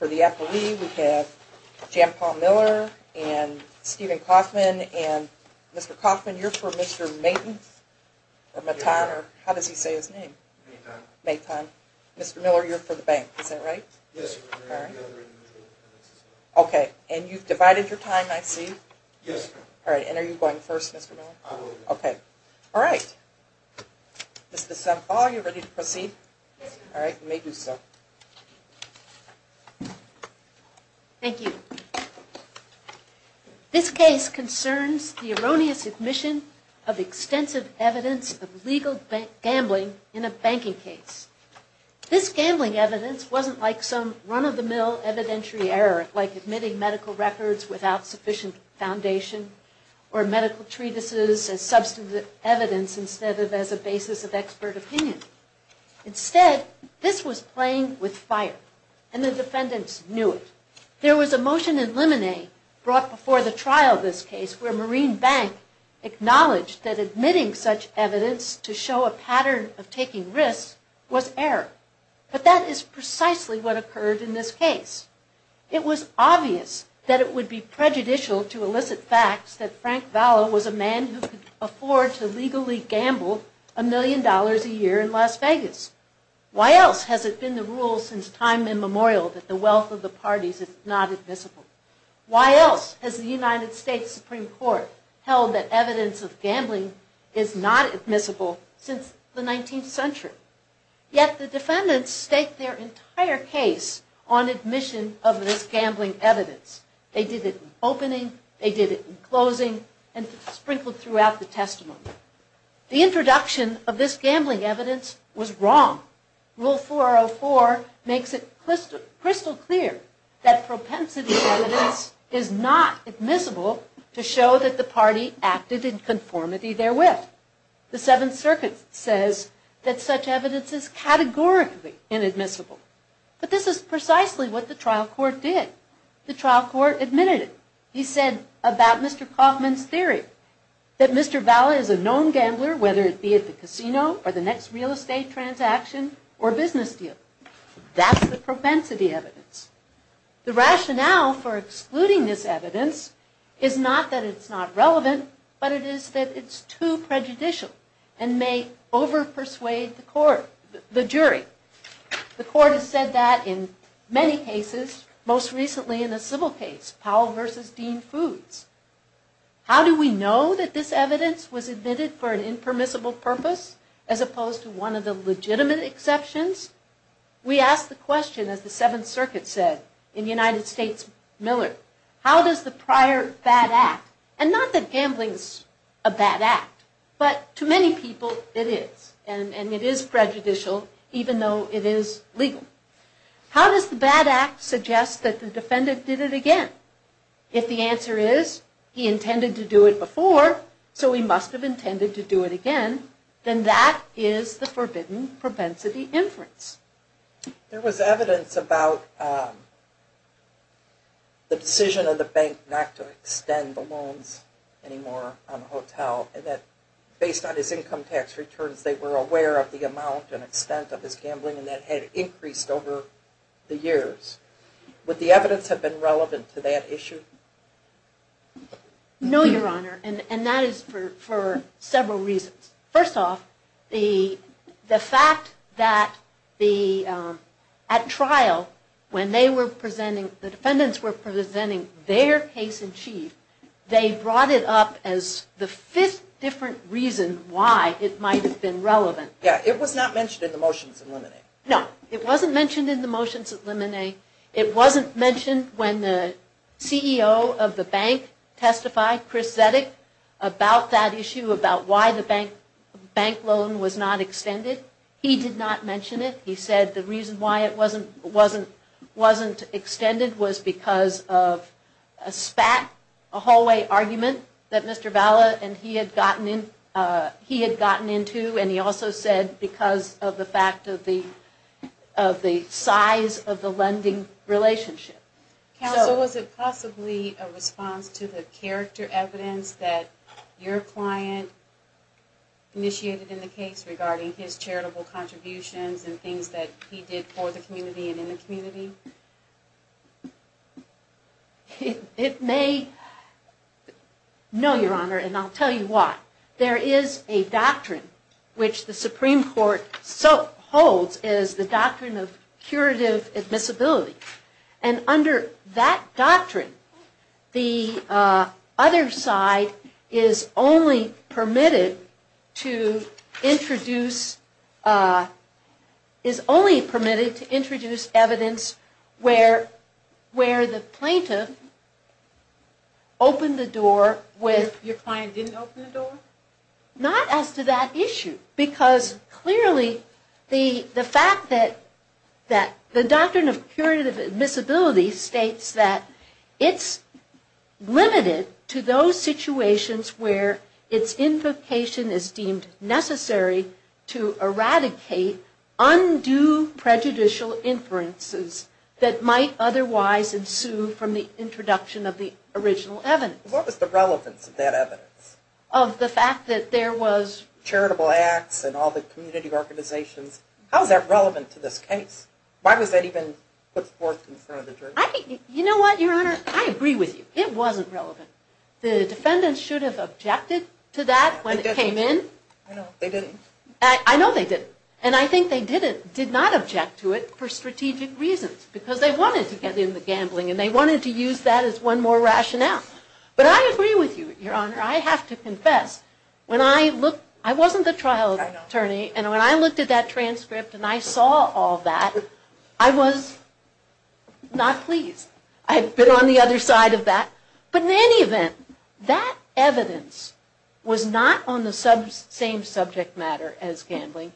For the appellee, we have Jan Paul Miller and Stephen Kaufman and Mr. Kaufman, you're for Mr. Mayton or Matton or how does he say his name? Mayton. Mr. Miller, you're for the bank, is that right? Yes. And you've divided your time, I see. Yes. And are you going first, Mr. Miller? I will. Okay. All right. Mr. Semphaw, are you ready to proceed? Yes. All right, you may do so. Thank you. This case concerns the erroneous admission of a group of defendants of extensive evidence of legal gambling in a banking case. This gambling evidence wasn't like some run-of-the-mill evidentiary error like admitting medical records without sufficient foundation or medical treatises as substantive evidence instead of as a basis of expert opinion. Instead, this was playing with fire, and the defendants knew it. There was a motion in Lemonet brought before the trial of this case where Marine Bank acknowledged that admitting such evidence to show a pattern of taking risks was error, but that is precisely what occurred in this case. It was obvious that it would be prejudicial to elicit facts that Frank Vallow was a man who could afford to legally gamble a million dollars a year in Las Vegas. Why else has it been the rule since time immemorial that the wealth of the parties is not admissible? Why else has the United States Supreme Court held that evidence of gambling is not admissible since the 19th century? Yet the defendants stake their entire case on admission of this gambling evidence. They did it in opening, they did it in closing, and sprinkled throughout the testimony. The introduction of this gambling evidence was wrong. Rule 404 makes it crystal clear that propensity evidence is not admissible to show that the party acted in conformity therewith. The Seventh Circuit says that such evidence is categorically inadmissible. But this is precisely what the trial court did. The trial court admitted it. He said about Mr. Kaufman's theory that Mr. Vallow is a known gambler whether it be at the casino or the next real estate transaction or business deal. That's the propensity evidence. The rationale for excluding this evidence is not that it's not relevant, but it is that it's too prejudicial and may over-persuade the jury. The court has said that in many cases, most recently in a civil case, Powell v. Dean Foods. How do we know that this evidence was admitted for an impermissible purpose as opposed to one of the legitimate exceptions? We ask the question, as the Seventh Circuit said in United States Miller, how does the prior bad act, and not that gambling is a bad act, but to many people it is, and it is prejudicial even though it is legal. How does the bad act suggest that the defendant did it again? If the answer is, he intended to do it before, so he must have intended to do it again, then that is the forbidden propensity inference. There was evidence about the decision of the bank not to extend the loans anymore on the hotel, and that based on his income tax returns, they were aware of the amount and extent of his gambling, and that had increased over the years. Would the evidence have been relevant to that issue? No, Your Honor, and that is for several reasons. First off, the fact that at trial, when the defendants were presenting their case in chief, they brought it up as the fifth different reason why it might have been relevant. It was not mentioned in the motions. No, it wasn't mentioned in the motions. It wasn't mentioned when the CEO of the bank testified, Chris Zetic, about that issue, about why the bank loan was not extended. He did not mention it. He said the reason why it wasn't extended was because of a spat, a hallway argument that Mr. Valla and he had gotten into, and he also said because of the fact of the size of the lending relationship. Counsel, was it possibly a response to the character evidence that your client initiated in the case regarding his charitable contributions and things that he did for the community and in the community? No, Your Honor, and I'll tell you why. There is a doctrine which the Supreme Court holds is the doctrine of curative admissibility, and under that doctrine, the other side is only permitted to introduce, is only permitted to introduce evidence where the plaintiff opened the door with... Your client didn't open the door? No, not as to that issue, because clearly the fact that the doctrine of curative admissibility states that it's limited to those situations where its invocation is deemed necessary to eradicate undue prejudicial inferences that might otherwise ensue from the introduction of the original evidence. What was the relevance of that evidence? Of the fact that there was... Charitable acts and all the community organizations. How is that relevant to this case? Why was that even put forth in front of the jury? You know what, Your Honor, I agree with you. It wasn't relevant. The defendants should have objected to that when it came in. They didn't. I know they didn't, and I think they did not object to it for strategic reasons, because they wanted to get in the gambling and they wanted to use that as one more rationale. But I agree with you, Your Honor. I have to confess, I wasn't the trial attorney, and when I looked at that transcript and I saw all that, I was not pleased. I had been on the other side of that. But in any event, that evidence was not on the same subject matter as gambling.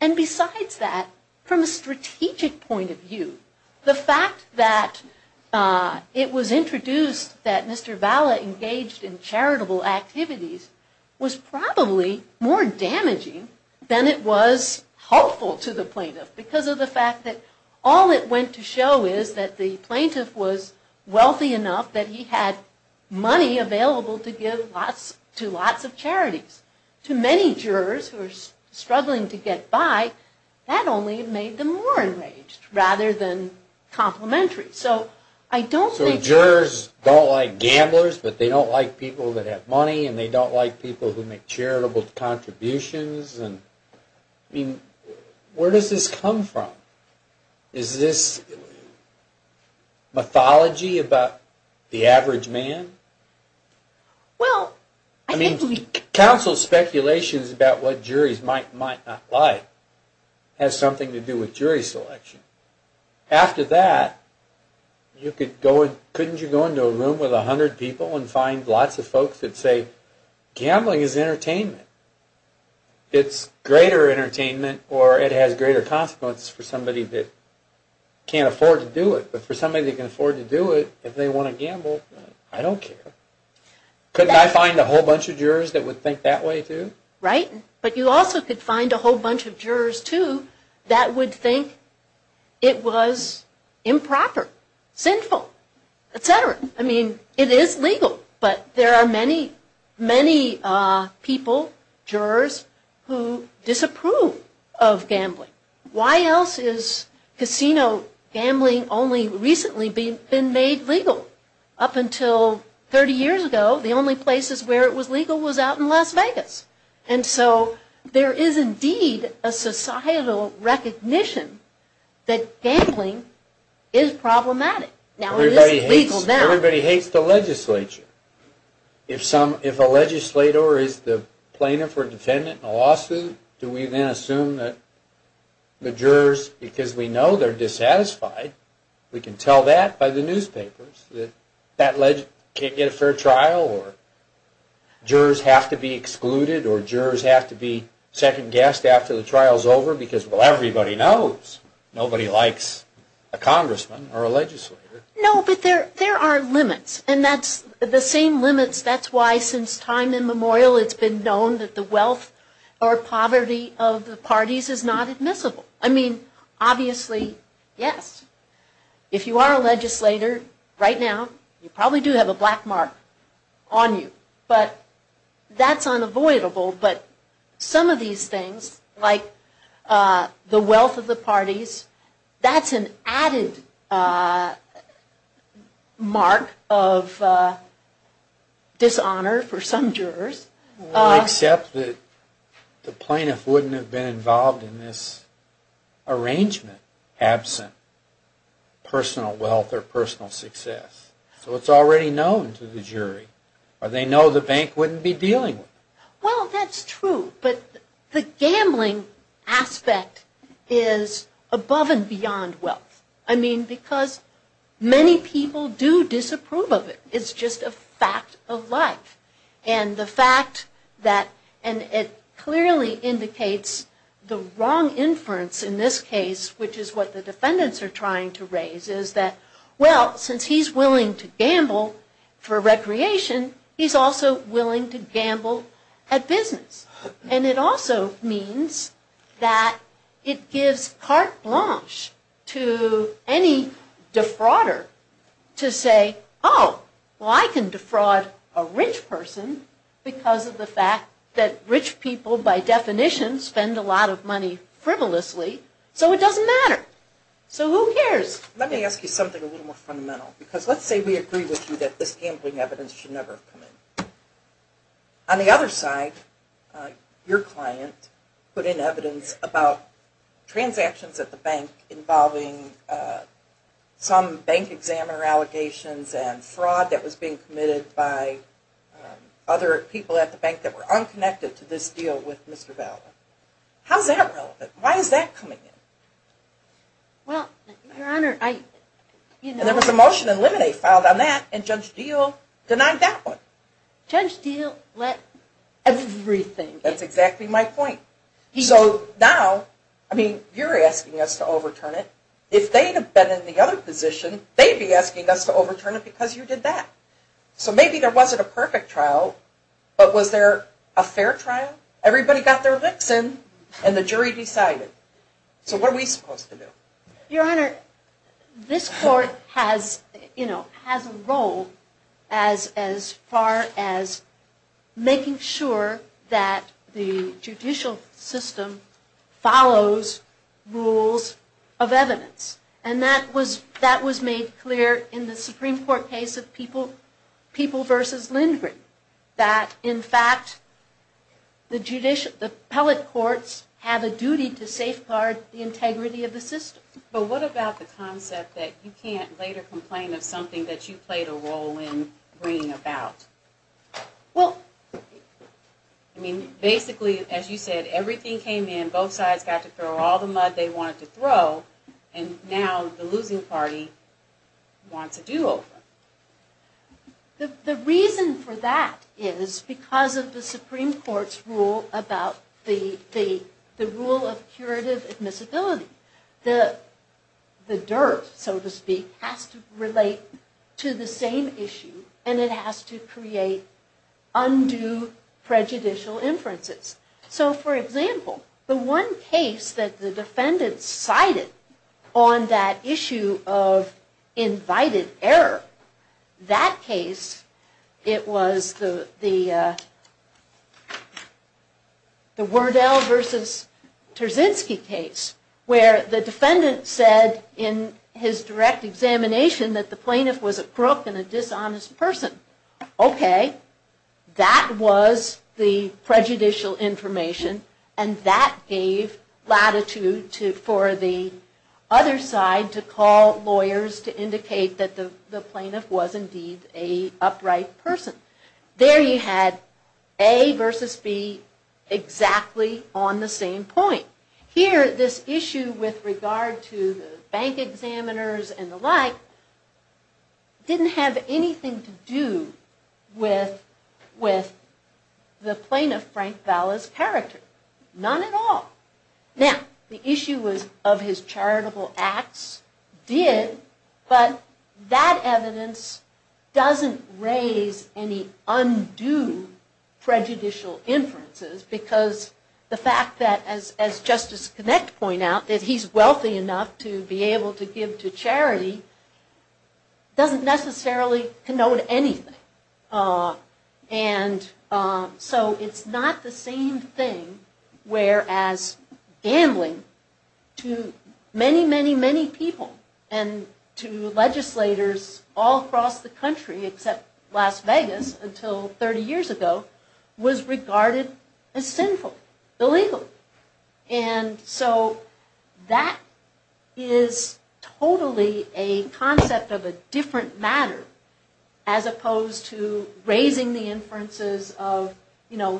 And besides that, from a strategic point of view, the fact that it was introduced that Mr. Valla engaged in charitable activities was probably more damaging than it was helpful to the plaintiff, because of the fact that all it went to show is that the plaintiff was wealthy enough that he had money available to give to lots of charities. To many jurors who are struggling to get by, that only made them more enraged, rather than complimentary. So jurors don't like gamblers, but they don't like people that have money, and they don't like people who make charitable contributions. Where does this come from? Is this mythology about the average man? Well, I think... Counsel's speculations about what juries might not like has something to do with jury selection. After that, couldn't you go into a room with 100 people and find lots of folks that say gambling is entertainment? It's greater entertainment, or it has greater consequences for somebody that can't afford to do it. But for somebody that can afford to do it, if they want to gamble, I don't care. Couldn't I find a whole bunch of jurors that would think that way, too? Right, but you also could find a whole bunch of jurors, too, that would think it was improper, sinful, etc. I mean, it is legal, but there are many, many people, jurors, who disapprove of gambling. Why else is casino gambling only recently been made legal? Up until 30 years ago, the only places where it was legal was out in Las Vegas. And so, there is indeed a societal recognition that gambling is problematic. Everybody hates the legislature. If a legislator is the plaintiff or defendant in a lawsuit, do we then assume that the jurors, because we know they're dissatisfied, we can tell that by the newspapers, that that legislator can't get a fair trial, or jurors have to be excluded, or jurors have to be second-guessed after the trial is over, because, well, everybody knows nobody likes a congressman or a legislator. No, but there are limits, and that's, the same limits, that's why since time immemorial, it's been known that the wealth or poverty of the parties is not admissible. I mean, obviously, yes, if you are a legislator, right now, you probably do have a black mark on you, but that's unavoidable, but some of these things, like the wealth of the parties, that's an added mark of dishonor for some jurors. Well, except that the plaintiff wouldn't have been involved in this arrangement, absent personal wealth or personal success. So it's already known to the jury, or they know the bank wouldn't be dealing with it. Well, that's true, but the gambling aspect is above and beyond wealth. I mean, because many people do disapprove of it, it's just a fact of life, and the fact that, and it clearly indicates the wrong inference in this case, which is what the defendants are trying to raise, is that, well, since he's willing to gamble for recreation, he's also willing to gamble at business. And it also means that it gives carte blanche to any defrauder to say, oh, well I can defraud a rich person because of the fact that rich people, by definition, spend a lot of money frivolously, so it doesn't matter. So who cares? Let me ask you something a little more fundamental. Because let's say we agree with you that this gambling evidence should never have come in. On the other side, your client put in evidence about transactions at the bank involving some bank examiner allegations and fraud that was being committed by other people at the bank that were unconnected to this deal with Mr. Ballard. How's that relevant? Why is that coming in? Well, Your Honor, I... And there was a motion in limine filed on that, and Judge Deal denied that one. Judge Deal let everything in. That's exactly my point. So now, I mean, you're asking us to overturn it. If they'd have been in the other position, they'd be asking us to overturn it because you did that. So maybe there wasn't a perfect trial, but was there a fair trial? Everybody got their licks in, and the jury decided. So what are we supposed to do? Your Honor, this court has a role as far as making sure that the judicial system follows rules of evidence. And that was made clear in the Supreme Court case of People v. Lindgren, that, in fact, the appellate courts have a duty to safeguard the integrity of the system. But what about the concept that you can't later complain of something that you played a role in bringing about? Well... I mean, basically, as you said, everything came in, both sides got to throw all the mud they wanted to throw, and now the losing party wants a do-over. The reason for that is because of the Supreme Court's rule about the rule of curative admissibility. The derp, so to speak, has to relate to the same issue, and it has to create undue prejudicial inferences. So, for example, the one case that the defendant cited on that issue of invited error, that case, it was the Werdel v. Terzinski case, where the defendant said in his direct examination that the plaintiff was a crook and a dishonest person. Okay, that was the prejudicial information, and that gave latitude for the other side to call lawyers to indicate that the plaintiff was indeed an upright person. There you had A versus B exactly on the same point. Here, this issue with regard to the bank examiners and the like didn't have anything to do with the plaintiff, Frank Valla's, character. None at all. Now, the issue of his charitable acts did, but that evidence doesn't raise any undue prejudicial inferences because the fact that, as Justice Kinect pointed out, that he's wealthy enough to be able to give to charity doesn't necessarily connote anything. And so it's not the same thing, whereas gambling to many, many, many people and to legislators all across the country except Las Vegas until 30 years ago, was regarded as sinful, illegal. And so that is totally a concept of a different matter as opposed to raising the inferences of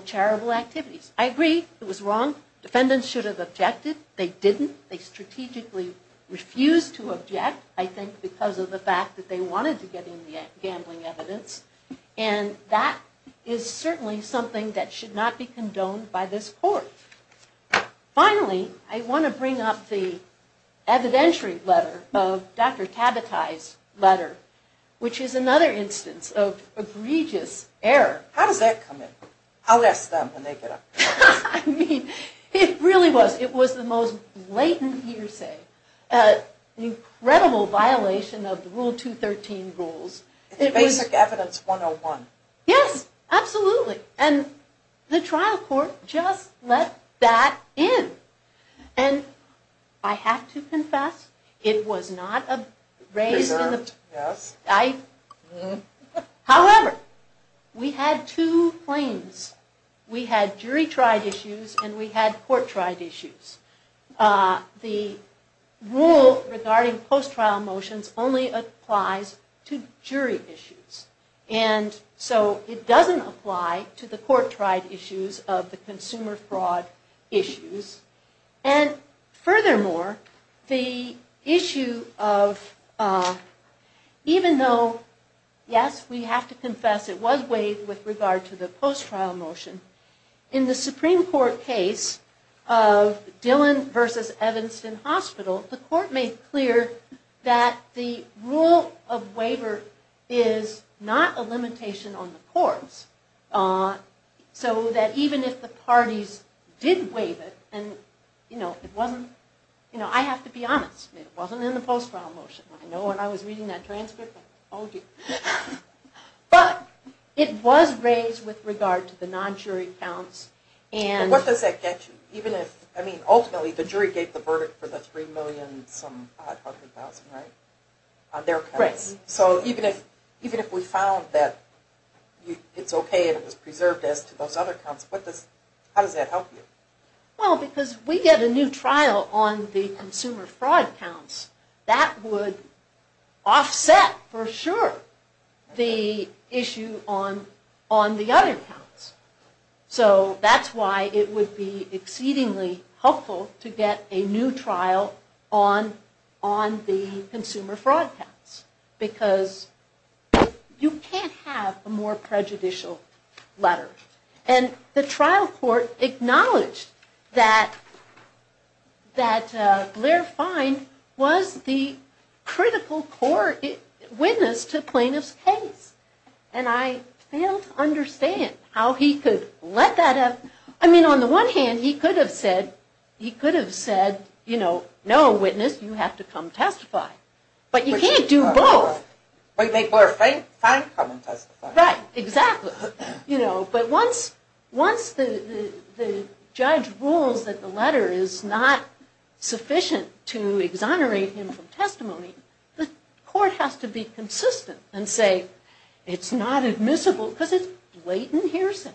charitable activities. I agree it was wrong. Defendants should have objected. They didn't. They strategically refused to object, I think, because of the fact that they wanted to get in the gambling evidence. And that is certainly something that should not be condoned by this Court. Finally, I want to bring up the evidentiary letter of Dr. Tabatai's letter, which is another instance of egregious error. How does that come in? I'll ask them and they get up. I mean, it really was. It was the most blatant hearsay. An incredible violation of the Rule 213 rules. It's Basic Evidence 101. Yes, absolutely. And the trial court just let that in. And I have to confess, it was not raised in the... Preserved, yes. However, we had two claims. We had jury-tried issues and we had court-tried issues. The rule regarding post-trial motions only applies to jury issues. And so it doesn't apply to the court-tried issues of the consumer fraud issues. And furthermore, the issue of... Even though, yes, we have to confess it was waived with regard to the post-trial motion, in the Supreme Court case of Dillon v. Evanston Hospital, the Court made clear that the rule of waiver is not a limitation on the courts. So that even if the parties did waive it, and it wasn't... I have to be honest, it wasn't in the post-trial motion. I know when I was reading that transcript, I told you. But it was raised with regard to the non-jury counts. What does that get you? Ultimately, the jury gave the verdict for the $3,500,000, right? Right. So even if we found that it's okay and it was preserved as to those other counts, how does that help you? Well, because we get a new trial on the consumer fraud counts, that would offset, for sure, the issue on the other counts. So that's why it would be exceedingly helpful to get a new trial on the consumer fraud counts. Because you can't have a more prejudicial letter. And the trial court acknowledged that Blair Fine was the critical core witness to Plaintiff's case. And I failed to understand how he could let that happen. I mean, on the one hand, he could have said, no, witness, you have to come testify. But you can't do both. But make Blair Fine come and testify. Right, exactly. But once the judge rules that the letter is not sufficient to exonerate him from testimony, the court has to be consistent and say, it's not admissible because it's blatant hearsay.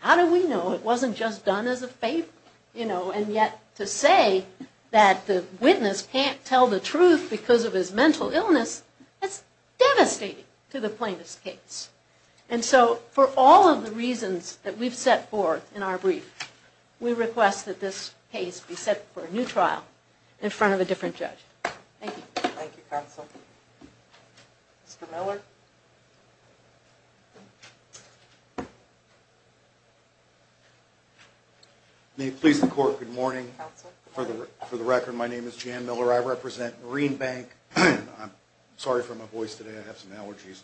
How do we know it wasn't just done as a favor? And yet to say that the witness can't tell the truth because of his mental illness, that's devastating to the plaintiff's case. And so for all of the reasons that we've set forth in our brief, we request that this case be set for a new trial in front of a different judge. Thank you. Thank you, counsel. Mr. Miller. May it please the court, good morning. Counsel. For the record, my name is Jan Miller. I represent Marine Bank. I'm sorry for my voice today. I have some allergies.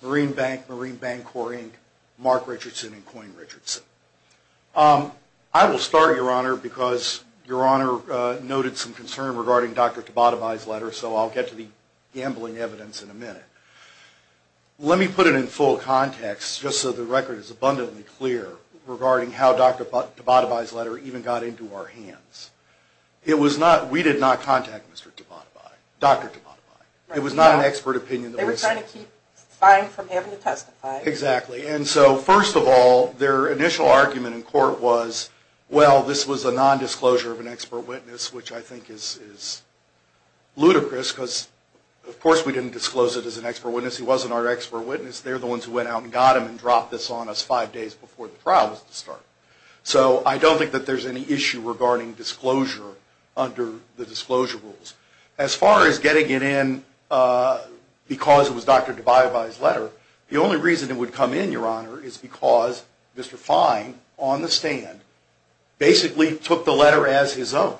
Marine Bank, Marine Bank Corp, Inc., Mark Richardson, and Coyne Richardson. I will start, Your Honor, because Your Honor noted some concern regarding Dr. Tabatabai's letter, so I'll get to the gambling evidence in a minute. Let me put it in full context, just so the record is abundantly clear, regarding how Dr. Tabatabai's letter even got into our hands. It was not, we did not contact Mr. Tabatabai, Dr. Tabatabai. It was not an expert opinion. They were trying to keep fine from having to testify. Exactly. And so, first of all, their initial argument in court was, well, this was a nondisclosure of an expert witness, which I think is ludicrous because, of course, we didn't disclose it as an expert witness. He wasn't our expert witness. They're the ones who went out and got him and dropped this on us five days before the trial was to start. So I don't think that there's any issue regarding disclosure under the disclosure rules. As far as getting it in because it was Dr. Tabatabai's letter, the only reason it would come in, Your Honor, is because Mr. Fine, on the stand, basically took the letter as his own.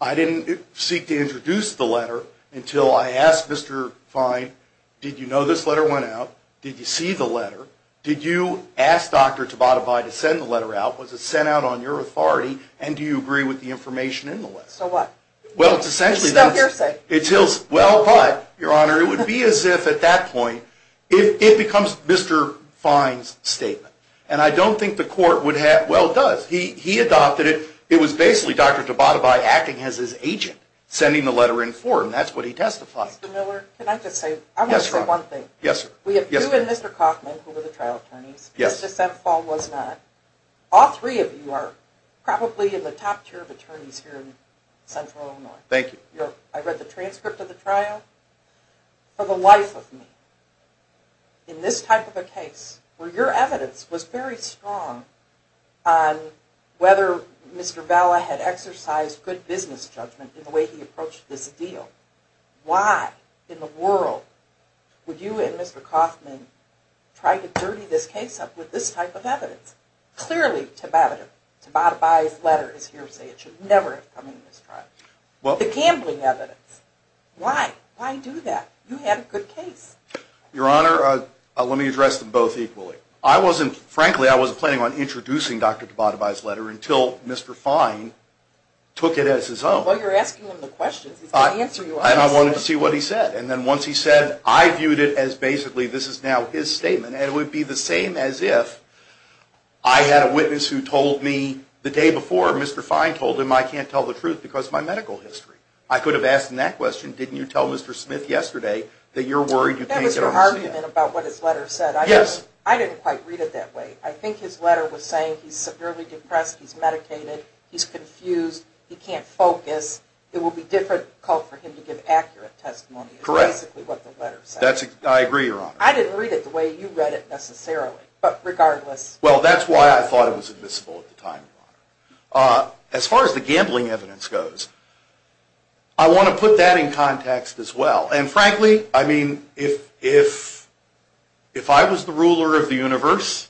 I didn't seek to introduce the letter until I asked Mr. Fine, did you know this letter went out? Did you see the letter? Did you ask Dr. Tabatabai to send the letter out? Was it sent out on your authority? And do you agree with the information in the letter? So what? It's still hearsay. Well, but, Your Honor, it would be as if at that point, it becomes Mr. Fine's statement. And I don't think the court would have – well, it does. He adopted it. It was basically Dr. Tabatabai acting as his agent, sending the letter in for him. That's what he testified. Mr. Miller, can I just say one thing? Yes, Your Honor. We have you and Mr. Kaufman, who were the trial attorneys. Yes. Mr. Semple was not. All three of you are probably in the top tier of attorneys here in Central Illinois. Thank you. I read the transcript of the trial. For the life of me, in this type of a case, where your evidence was very strong on whether Mr. Valla had exercised good business judgment in the way he approached this deal, why in the world would you and Mr. Kaufman try to dirty this case up with this type of evidence? Clearly, Tabatabai's letter is hearsay. It should never have come into this trial. The gambling evidence. Why? Why do that? You had a good case. Your Honor, let me address them both equally. Frankly, I wasn't planning on introducing Dr. Tabatabai's letter until Mr. Fine took it as his own. Well, you're asking him the questions. He's going to answer you. I wanted to see what he said. Then once he said, I viewed it as basically this is now his statement, and it would be the same as if I had a witness who told me the day before Mr. Fine told him I can't tell the truth because of my medical history. I could have asked him that question, didn't you tell Mr. Smith yesterday that you're worried you can't get a horse again? That was your argument about what his letter said. Yes. I didn't quite read it that way. I think his letter was saying he's severely depressed, he's medicated, he's confused, he can't focus. It will be difficult for him to give accurate testimony. Correct. That's basically what the letter said. I agree, Your Honor. I didn't read it the way you read it necessarily, but regardless. Well, that's why I thought it was admissible at the time, Your Honor. As far as the gambling evidence goes, I want to put that in context as well. Frankly, I mean, if I was the ruler of the universe,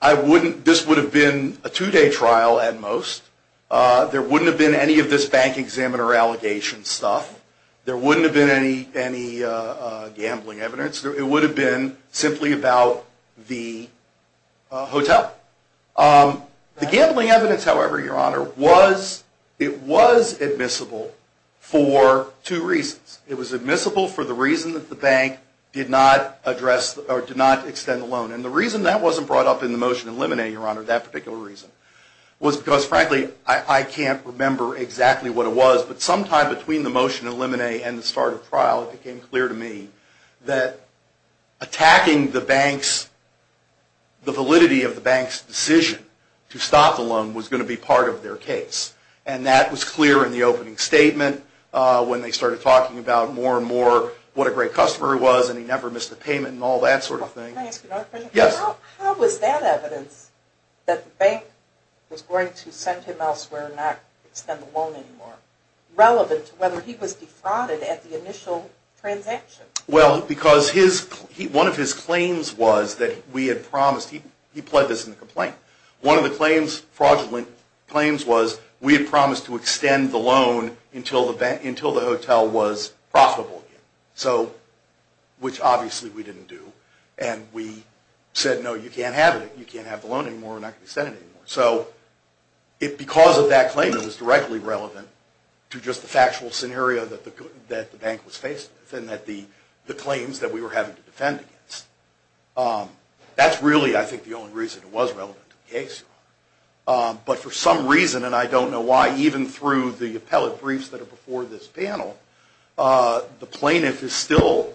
this would have been a two-day trial at most. There wouldn't have been any of this bank examiner allegation stuff. There wouldn't have been any gambling evidence. It would have been simply about the hotel. The gambling evidence, however, Your Honor, it was admissible for two reasons. It was admissible for the reason that the bank did not extend the loan, and the reason that wasn't brought up in the motion in Limine, Your Honor, that particular reason, was because, frankly, I can't remember exactly what it was, but sometime between the motion in Limine and the start of trial, it became clear to me that attacking the validity of the bank's decision to stop the loan was going to be part of their case, and that was clear in the opening statement when they started talking about more and more what a great customer he was and he never missed a payment and all that sort of thing. Can I ask you another question? Yes. How was that evidence that the bank was going to send him elsewhere and not extend the loan anymore relevant to whether he was defrauded at the initial transaction? Well, because one of his claims was that we had promised, he pled this in the complaint, one of the fraudulent claims was we had promised to extend the loan until the hotel was profitable again, which obviously we didn't do, and we said, no, you can't have it. You can't have the loan anymore. We're not going to extend it anymore. So because of that claim, it was directly relevant to just the factual scenario that the bank was faced with and the claims that we were having to defend against. That's really, I think, the only reason it was relevant to the case. But for some reason, and I don't know why, even through the appellate briefs that are before this panel, the plaintiff is still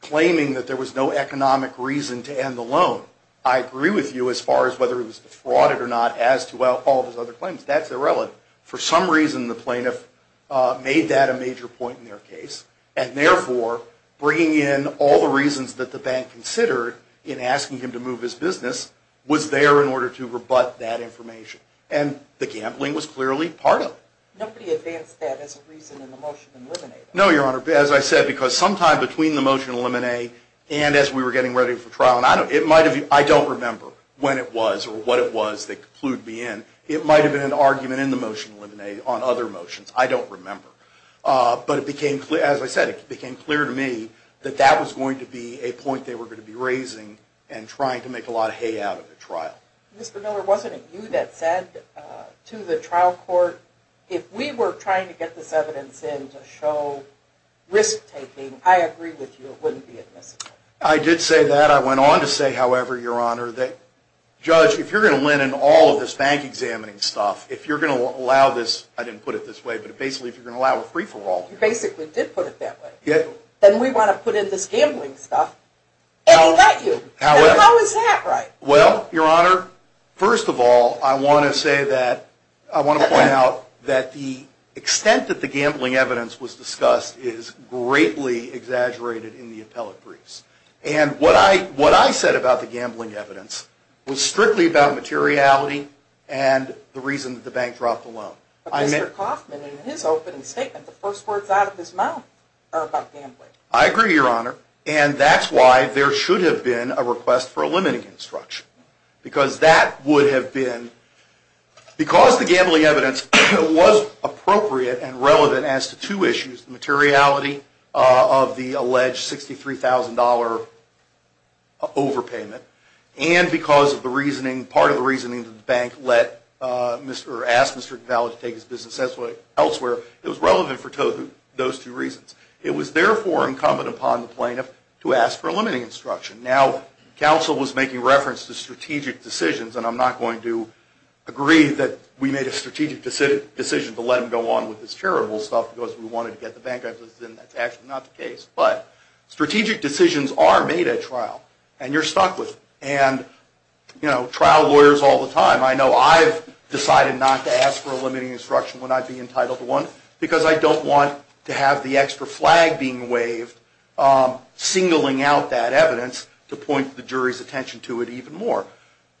claiming that there was no economic reason to end the loan. I agree with you as far as whether he was defrauded or not as to all of his other claims. That's irrelevant. For some reason, the plaintiff made that a major point in their case, and therefore bringing in all the reasons that the bank considered in asking him to move his business was there in order to rebut that information. And the gambling was clearly part of it. Nobody advanced that as a reason in the motion to eliminate it. No, Your Honor, as I said, because sometime between the motion to eliminate and as we were getting ready for trial, and I don't remember when it was or what it was they concluded me in, it might have been an argument in the motion to eliminate on other motions. I don't remember. But as I said, it became clear to me that that was going to be a point they were going to be raising and trying to make a lot of hay out of the trial. Mr. Miller, wasn't it you that said to the trial court, if we were trying to get this evidence in to show risk-taking, I agree with you, it wouldn't be admissible? I did say that. I went on to say, however, Your Honor, that, Judge, if you're going to win in all of this bank-examining stuff, if you're going to allow this, I didn't put it this way, but basically if you're going to allow a free-for-all. You basically did put it that way. Then we want to put in this gambling stuff, and he let you. How is that right? Well, Your Honor, first of all, I want to say that, I want to point out that the extent that the gambling evidence was discussed is greatly exaggerated in the appellate briefs. And what I said about the gambling evidence was strictly about materiality and the reason that the bank dropped the loan. But Mr. Coffman, in his opening statement, the first words out of his mouth are about gambling. I agree, Your Honor, and that's why there should have been a request for a limiting instruction. Because that would have been, because the gambling evidence was appropriate and relevant as to two issues, the materiality of the alleged $63,000 overpayment, and because of the reasoning, part of the reasoning that the bank let, or asked Mr. Cavallo to take his business elsewhere. It was relevant for those two reasons. It was, therefore, incumbent upon the plaintiff to ask for a limiting instruction. Now, counsel was making reference to strategic decisions, and I'm not going to agree that we made a strategic decision to let him go on with this terrible stuff because we wanted to get the bank out of this, and that's actually not the case. But strategic decisions are made at trial, and you're stuck with them. And, you know, trial lawyers all the time. I know I've decided not to ask for a limiting instruction when I've been entitled to one because I don't want to have the extra flag being waved, singling out that evidence to point the jury's attention to it even more.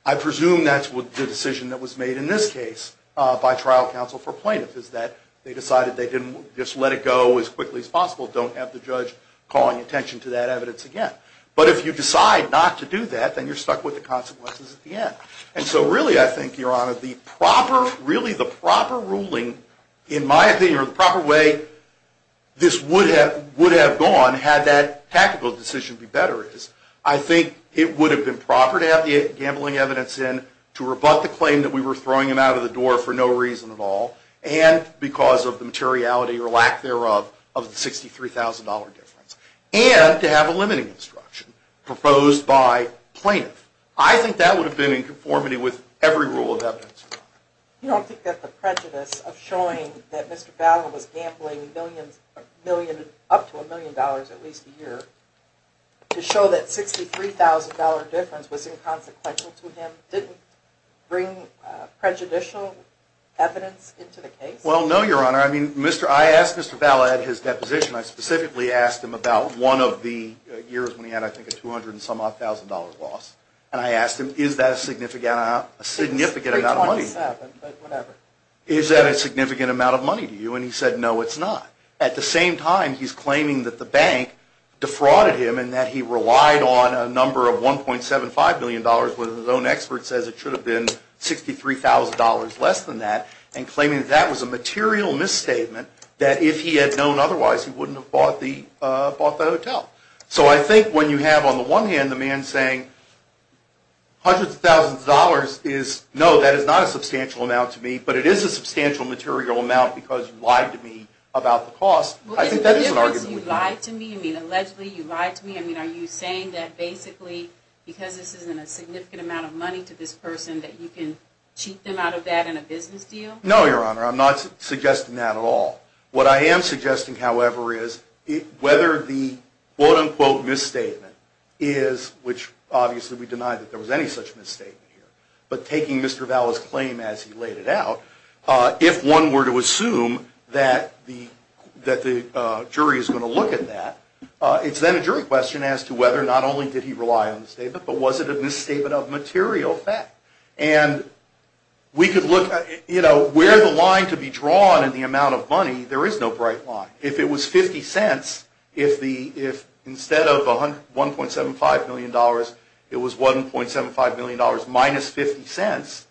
I presume that's the decision that was made in this case by trial counsel for plaintiffs, is that they decided they didn't just let it go as quickly as possible, don't have the judge calling attention to that evidence again. But if you decide not to do that, then you're stuck with the consequences at the end. And so, really, I think, Your Honor, the proper ruling, in my opinion, or the proper way this would have gone had that tactical decision been better, I think it would have been proper to have the gambling evidence in to rebut the claim that we were throwing him out of the door for no reason at all, and because of the materiality or lack thereof of the $63,000 difference, and to have a limiting instruction proposed by plaintiffs. I think that would have been in conformity with every rule of evidence, Your Honor. You don't think that's a prejudice of showing that Mr. Fowler was gambling up to a million dollars at least a year to show that $63,000 difference was inconsequential to him didn't bring prejudicial evidence into the case? Well, no, Your Honor. I mean, I asked Mr. Fowler at his deposition, I specifically asked him about one of the years when he had, I think, a $200,000 loss, and I asked him, is that a significant amount of money? It's $327,000, but whatever. Is that a significant amount of money to you? And he said, no, it's not. At the same time, he's claiming that the bank defrauded him and that he relied on a number of $1.75 million, when his own expert says it should have been $63,000 less than that, and claiming that that was a material misstatement, that if he had known otherwise, he wouldn't have bought the hotel. So I think when you have, on the one hand, the man saying hundreds of thousands of dollars is, no, that is not a substantial amount to me, but it is a substantial material amount because you lied to me about the cost, I think that is an argument we can make. In other words, you lied to me? You mean, allegedly, you lied to me? I mean, are you saying that basically, because this isn't a significant amount of money to this person, that you can cheat them out of that in a business deal? No, Your Honor. I'm not suggesting that at all. What I am suggesting, however, is whether the quote-unquote misstatement is, which obviously we deny that there was any such misstatement here, but taking Mr. Valla's claim as he laid it out, if one were to assume that the jury is going to look at that, it's then a jury question as to whether not only did he rely on the statement, but was it a misstatement of material fact? And we could look at, you know, where the line could be drawn in the amount of money, there is no bright line. If it was 50 cents, if instead of $1.75 million, it was $1.75 million minus 50 cents,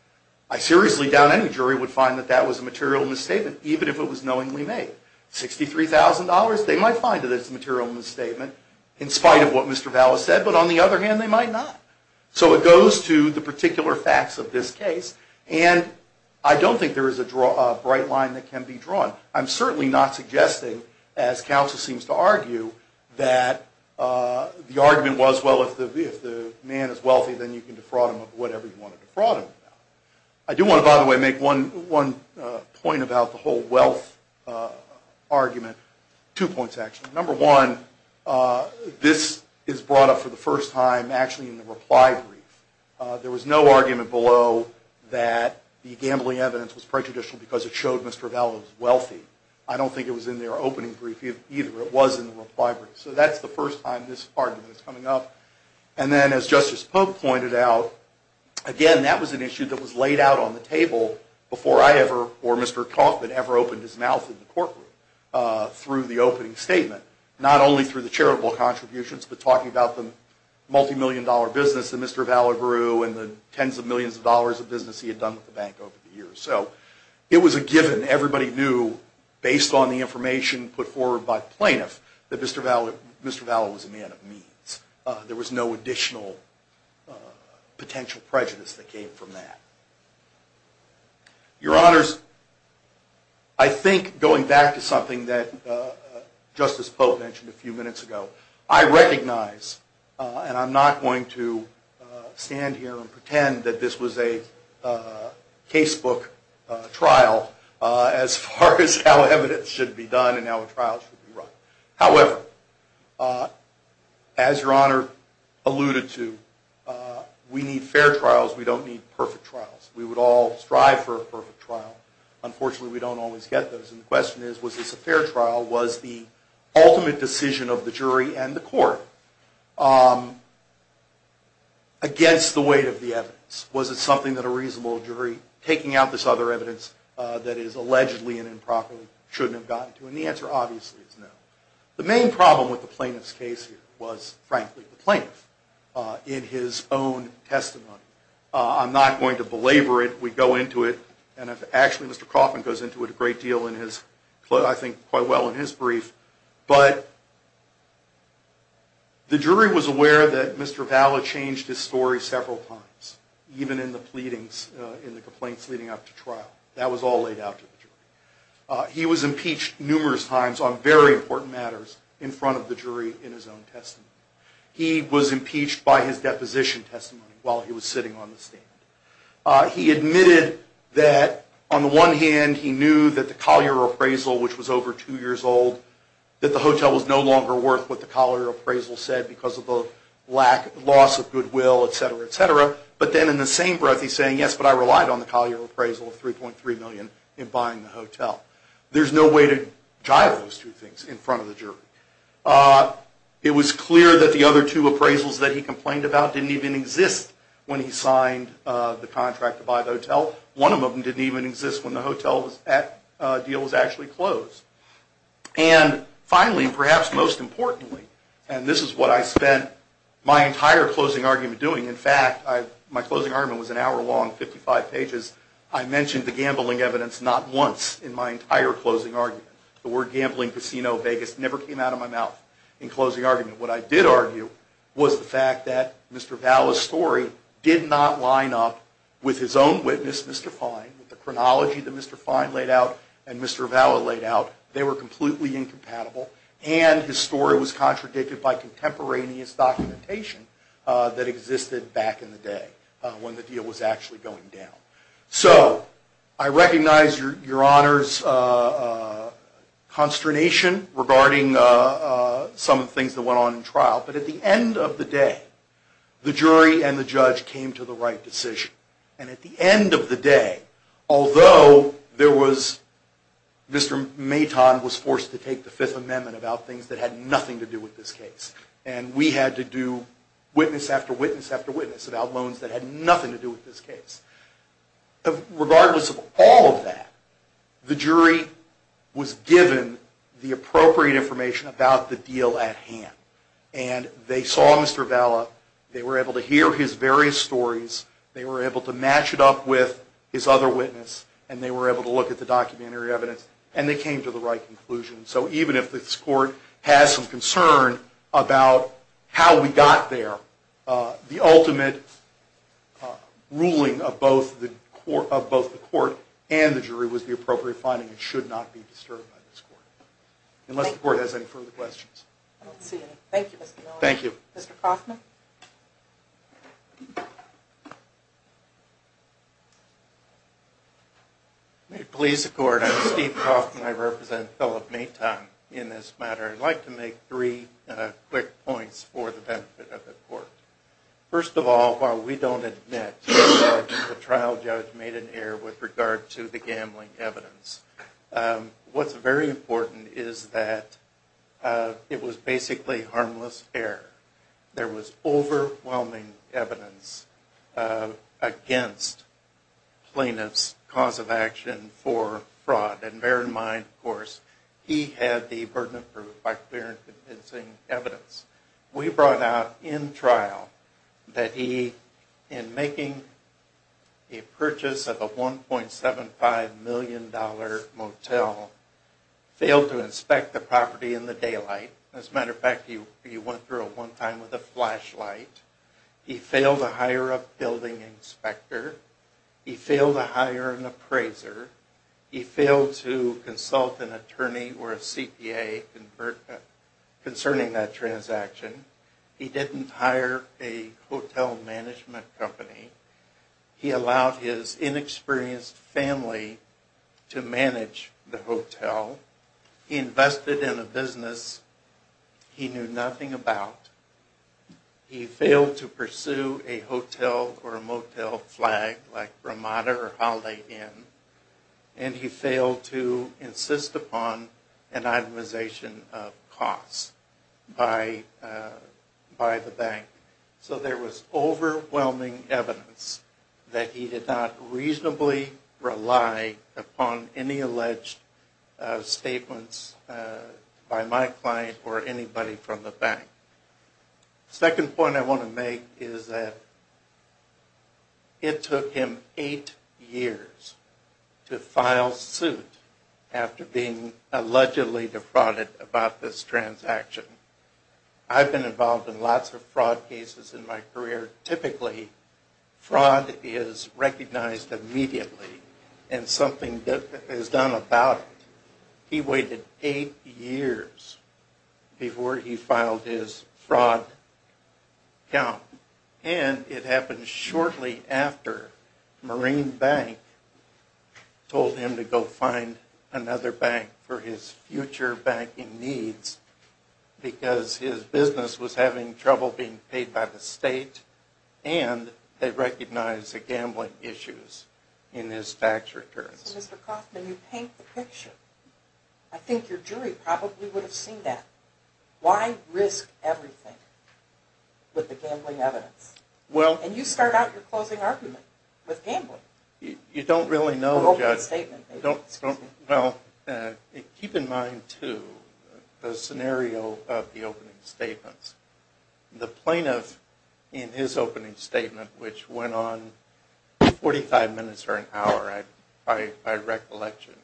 I seriously doubt any jury would find that that was a material misstatement, even if it was knowingly made. $63,000, they might find it as a material misstatement in spite of what Mr. Valla said, but on the other hand, they might not. So it goes to the particular facts of this case, and I don't think there is a bright line that can be drawn. I'm certainly not suggesting, as counsel seems to argue, that the argument was, well, if the man is wealthy, then you can defraud him of whatever you want to defraud him about. I do want to, by the way, make one point about the whole wealth argument. Two points, actually. Number one, this is brought up for the first time actually in the reply brief. There was no argument below that the gambling evidence was prejudicial because it showed Mr. Valla was wealthy. I don't think it was in their opening brief either. It was in the reply brief. So that's the first time this argument is coming up. And then as Justice Pope pointed out, again, that was an issue that was laid out on the table before I ever or Mr. Kaufman ever opened his mouth in the courtroom through the opening statement, not only through the charitable contributions, but talking about the multimillion dollar business that Mr. Valla grew and the tens of millions of dollars of business he had done with the bank over the years. So it was a given. Everybody knew, based on the information put forward by plaintiffs, that Mr. Valla was a man of means. There was no additional potential prejudice that came from that. Your Honors, I think going back to something that Justice Pope mentioned a few minutes ago, I recognize, and I'm not going to stand here and pretend that this was a casebook trial as far as how evidence should be done and how a trial should be run. However, as Your Honor alluded to, we need fair trials. We don't need perfect trials. We would all strive for a perfect trial. Unfortunately, we don't always get those. And the question is, was this a fair trial? Was the ultimate decision of the jury and the court against the weight of the evidence? Was it something that a reasonable jury, taking out this other evidence that is allegedly and improperly, shouldn't have gotten to? And the answer, obviously, is no. The main problem with the plaintiff's case here was, frankly, the plaintiff in his own testimony. I'm not going to belabor it. Actually, Mr. Coffman goes into it a great deal, I think quite well in his brief. But the jury was aware that Mr. Valla changed his story several times, even in the complaints leading up to trial. That was all laid out to the jury. He was impeached numerous times on very important matters in front of the jury in his own testimony. He was impeached by his deposition testimony while he was sitting on the stand. He admitted that, on the one hand, he knew that the Collier appraisal, which was over two years old, that the hotel was no longer worth what the Collier appraisal said because of the loss of goodwill, etc., etc. But then, in the same breath, he's saying, yes, but I relied on the Collier appraisal of $3.3 million in buying the hotel. There's no way to jive those two things in front of the jury. It was clear that the other two appraisals that he complained about didn't even exist when he signed the contract to buy the hotel. One of them didn't even exist when the hotel deal was actually closed. And finally, and perhaps most importantly, and this is what I spent my entire closing argument doing, in fact, my closing argument was an hour long, 55 pages, I mentioned the gambling evidence not once in my entire closing argument. The word gambling, casino, Vegas, never came out of my mouth in closing argument. What I did argue was the fact that Mr. Valla's story did not line up with his own witness, Mr. Fine, with the chronology that Mr. Fine laid out and Mr. Valla laid out. They were completely incompatible, and his story was contradicted by contemporaneous documentation that existed back in the day when the deal was actually going down. So, I recognize your honor's consternation regarding some of the things that went on in trial, but at the end of the day, the jury and the judge came to the right decision. And at the end of the day, although there was, Mr. Maton was forced to take the Fifth Amendment about things that had nothing to do with this case, and we had to do witness after witness after witness about loans that had nothing to do with this case. Regardless of all of that, the jury was given the appropriate information about the deal at hand, and they saw Mr. Valla, they were able to hear his various stories, they were able to match it up with his other witness, and they were able to look at the documentary evidence, and they came to the right conclusion. So, even if this court has some concern about how we got there, the ultimate ruling of both the court and the jury was the appropriate finding and should not be disturbed by this court, unless the court has any further questions. Thank you, Mr. Miller. Thank you. Mr. Kaufman? May it please the court, I'm Steve Kaufman, I represent Phillip Maton in this matter. I'd like to make three quick points for the benefit of the court. First of all, while we don't admit that the trial judge made an error with regard to the gambling evidence, what's very important is that it was basically harmless error. There was overwhelming evidence against plaintiff's cause of action for fraud, and bear in mind, of course, he had the burden of proof by clear and convincing evidence. We brought out in trial that he, in making a purchase of a $1.75 million motel, failed to inspect the property in the daylight. As a matter of fact, he went through it one time with a flashlight. He failed to hire a building inspector. He failed to hire an appraiser. He failed to consult an attorney or a CPA concerning that transaction. He didn't hire a hotel management company. He allowed his inexperienced family to manage the hotel. He invested in a business he knew nothing about. He failed to pursue a hotel or a motel flag like Ramada or Holiday Inn, and he failed to insist upon an itemization of costs by the bank. So there was overwhelming evidence that he did not reasonably rely upon any alleged statements by my client or anybody from the bank. The second point I want to make is that it took him eight years to file suit after being allegedly defrauded about this transaction. I've been involved in lots of fraud cases in my career. Typically, fraud is recognized immediately, and something is done about it. He waited eight years before he filed his fraud count, and it happened shortly after Marine Bank told him to go find another bank for his future banking needs because his business was having trouble being paid by the state, and they recognized the gambling issues in his tax returns. So, Mr. Kaufman, you paint the picture. I think your jury probably would have seen that. Why risk everything with the gambling evidence? And you start out your closing argument with gambling. You don't really know, Judge. Well, keep in mind, too, the scenario of the opening statements. The plaintiff in his opening statement, which went on 45 minutes or an hour by recollection,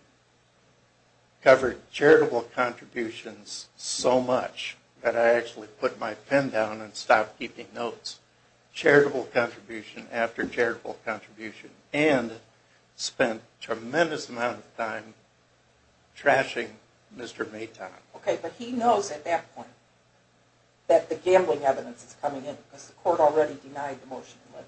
covered charitable contributions so much that I actually put my pen down and stopped keeping notes. Charitable contribution after charitable contribution, and spent a tremendous amount of time trashing Mr. Mayton. Okay, but he knows at that point that the gambling evidence is coming in because the court already denied the motion to deliver.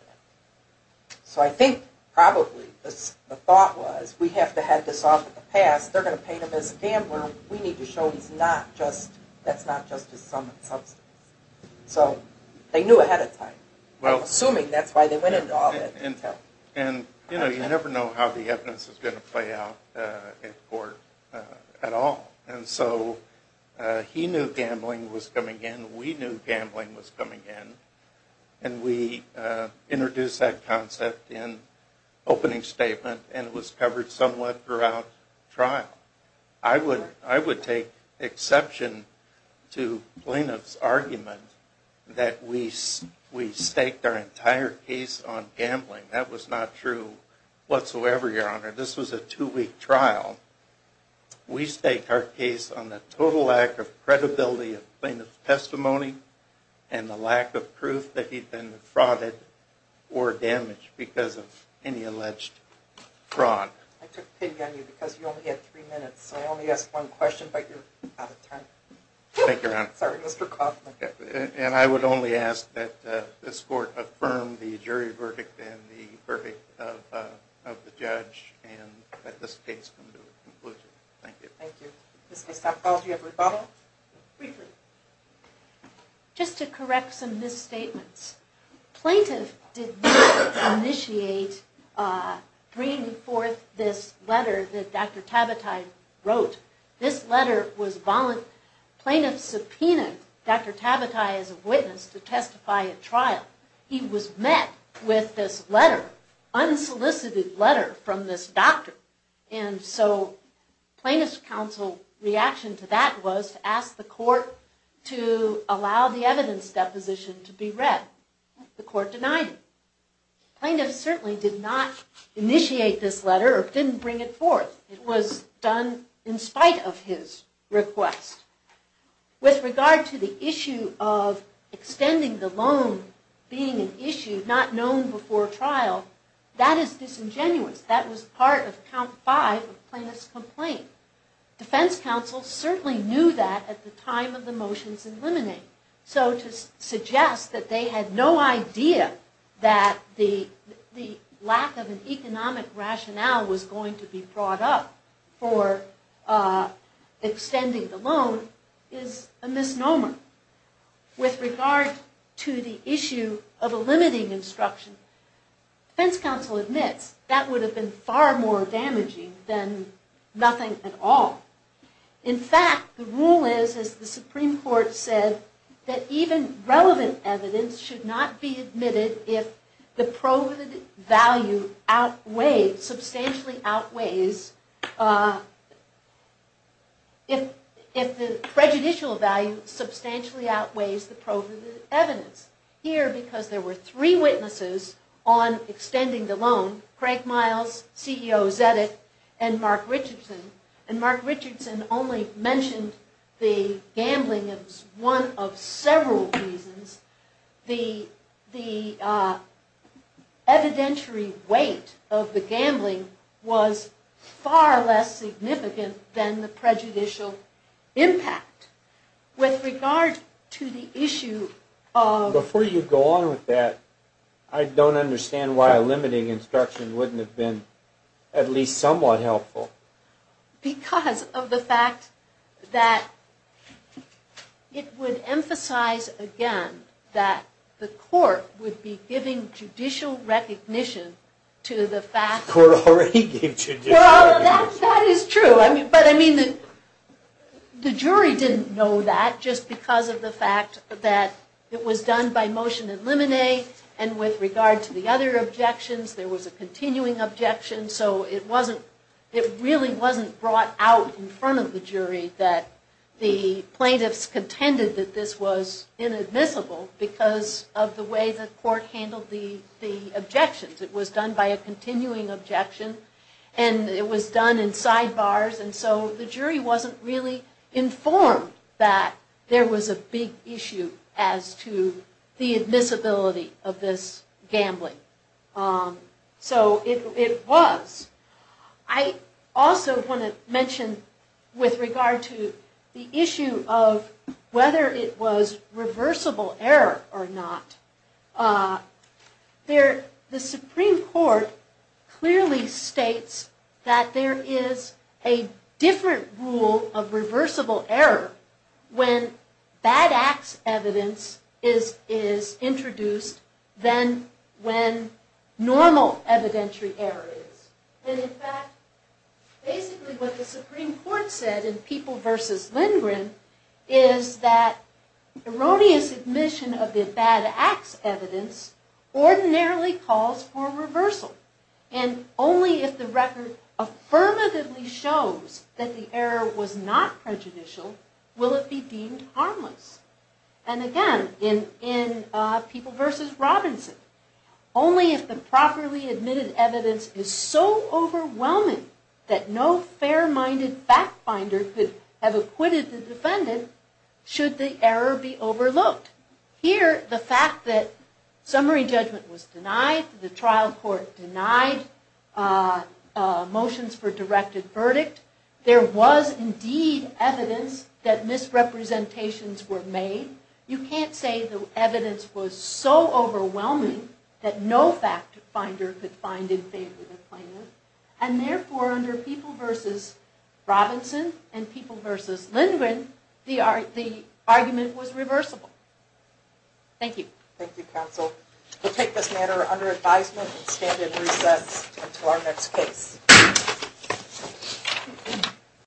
So I think, probably, the thought was, we have to have this off the pass. They're going to paint him as a gambler. We need to show he's not just, that's not just his sum of substance. So they knew ahead of time, assuming that's why they went into all that detail. And, you know, you never know how the evidence is going to play out at court at all. And so he knew gambling was coming in. We knew gambling was coming in. And we introduced that concept in opening statement, and it was covered somewhat throughout trial. I would take exception to plaintiff's argument that we staked our entire case on gambling. That was not true whatsoever, Your Honor. This was a two-week trial. We staked our case on the total lack of credibility of plaintiff's testimony and the lack of proof that he'd been frauded or damaged because of any alleged fraud. I took pity on you because you only had three minutes. So I only asked one question, but you're out of time. Thank you, Your Honor. Sorry, Mr. Kaufman. And I would only ask that this court affirm the jury verdict and the verdict of the judge and that this case come to a conclusion. Thank you. Thank you. Ms. Gastapoff, do you have a rebuttal? Briefly. Just to correct some misstatements. Plaintiff did not initiate bringing forth this letter that Dr. Tabatai wrote. This letter was voluntary. Plaintiff subpoenaed Dr. Tabatai as a witness to testify at trial. He was met with this letter, unsolicited letter, from this doctor. And so plaintiff's counsel reaction to that was to ask the court to allow the evidence deposition to be read. The court denied it. Plaintiff certainly did not initiate this letter or didn't bring it forth. It was done in spite of his request. With regard to the issue of extending the loan being an issue not known before trial, that is disingenuous. That was part of count five of plaintiff's complaint. Defense counsel certainly knew that at the time of the motions in limine. So to suggest that they had no idea that the lack of an economic rationale was going to be brought up for extending the loan is a misnomer. With regard to the issue of a limiting instruction, defense counsel admits that that would have been far more damaging than nothing at all. In fact, the rule is, as the Supreme Court said, that even relevant evidence should not be admitted if the proven value outweighs, substantially outweighs, if the prejudicial value substantially outweighs the proven evidence. Here, because there were three witnesses on extending the loan, Craig Miles, CEO Zedek, and Mark Richardson, and Mark Richardson only mentioned the gambling as one of several reasons. The evidentiary weight of the gambling was far less significant than the prejudicial impact. With regard to the issue of... Before you go on with that, I don't understand why a limiting instruction wouldn't have been at least somewhat helpful. Because of the fact that it would emphasize again that the court would be giving judicial recognition to the fact... The court already gave judicial recognition. Well, that is true. But I mean, the jury didn't know that just because of the fact that it was done by motion and limine. And with regard to the other objections, there was a continuing objection. So it really wasn't brought out in front of the jury that the plaintiffs contended that this was inadmissible because of the way the court handled the objections. It was done by a continuing objection. And it was done in sidebars. And so the jury wasn't really informed that there was a big issue as to the admissibility of this gambling. So it was. I also want to mention with regard to the issue of whether it was reversible error or not. The Supreme Court clearly states that there is a different rule of reversible error when bad acts evidence is introduced than when normal evidentiary error is. And in fact, basically what the Supreme Court said in People v. Lindgren is that erroneous admission of the bad acts evidence ordinarily calls for reversal. And only if the record affirmatively shows that the error was not prejudicial will it be deemed harmless. And again, in People v. Robinson, only if the properly admitted evidence is so overwhelming that no fair-minded fact-finder could have acquitted the defendant should the error be overlooked. Here, the fact that summary judgment was denied, the trial court denied motions for directed verdict, there was indeed evidence that misrepresentations were made. You can't say the evidence was so overwhelming that no fact-finder could find in favor of it. Therefore, under People v. Robinson and People v. Lindgren, the argument was reversible. Thank you. Thank you, counsel. We'll take this matter under advisement and stand in recess until our next case.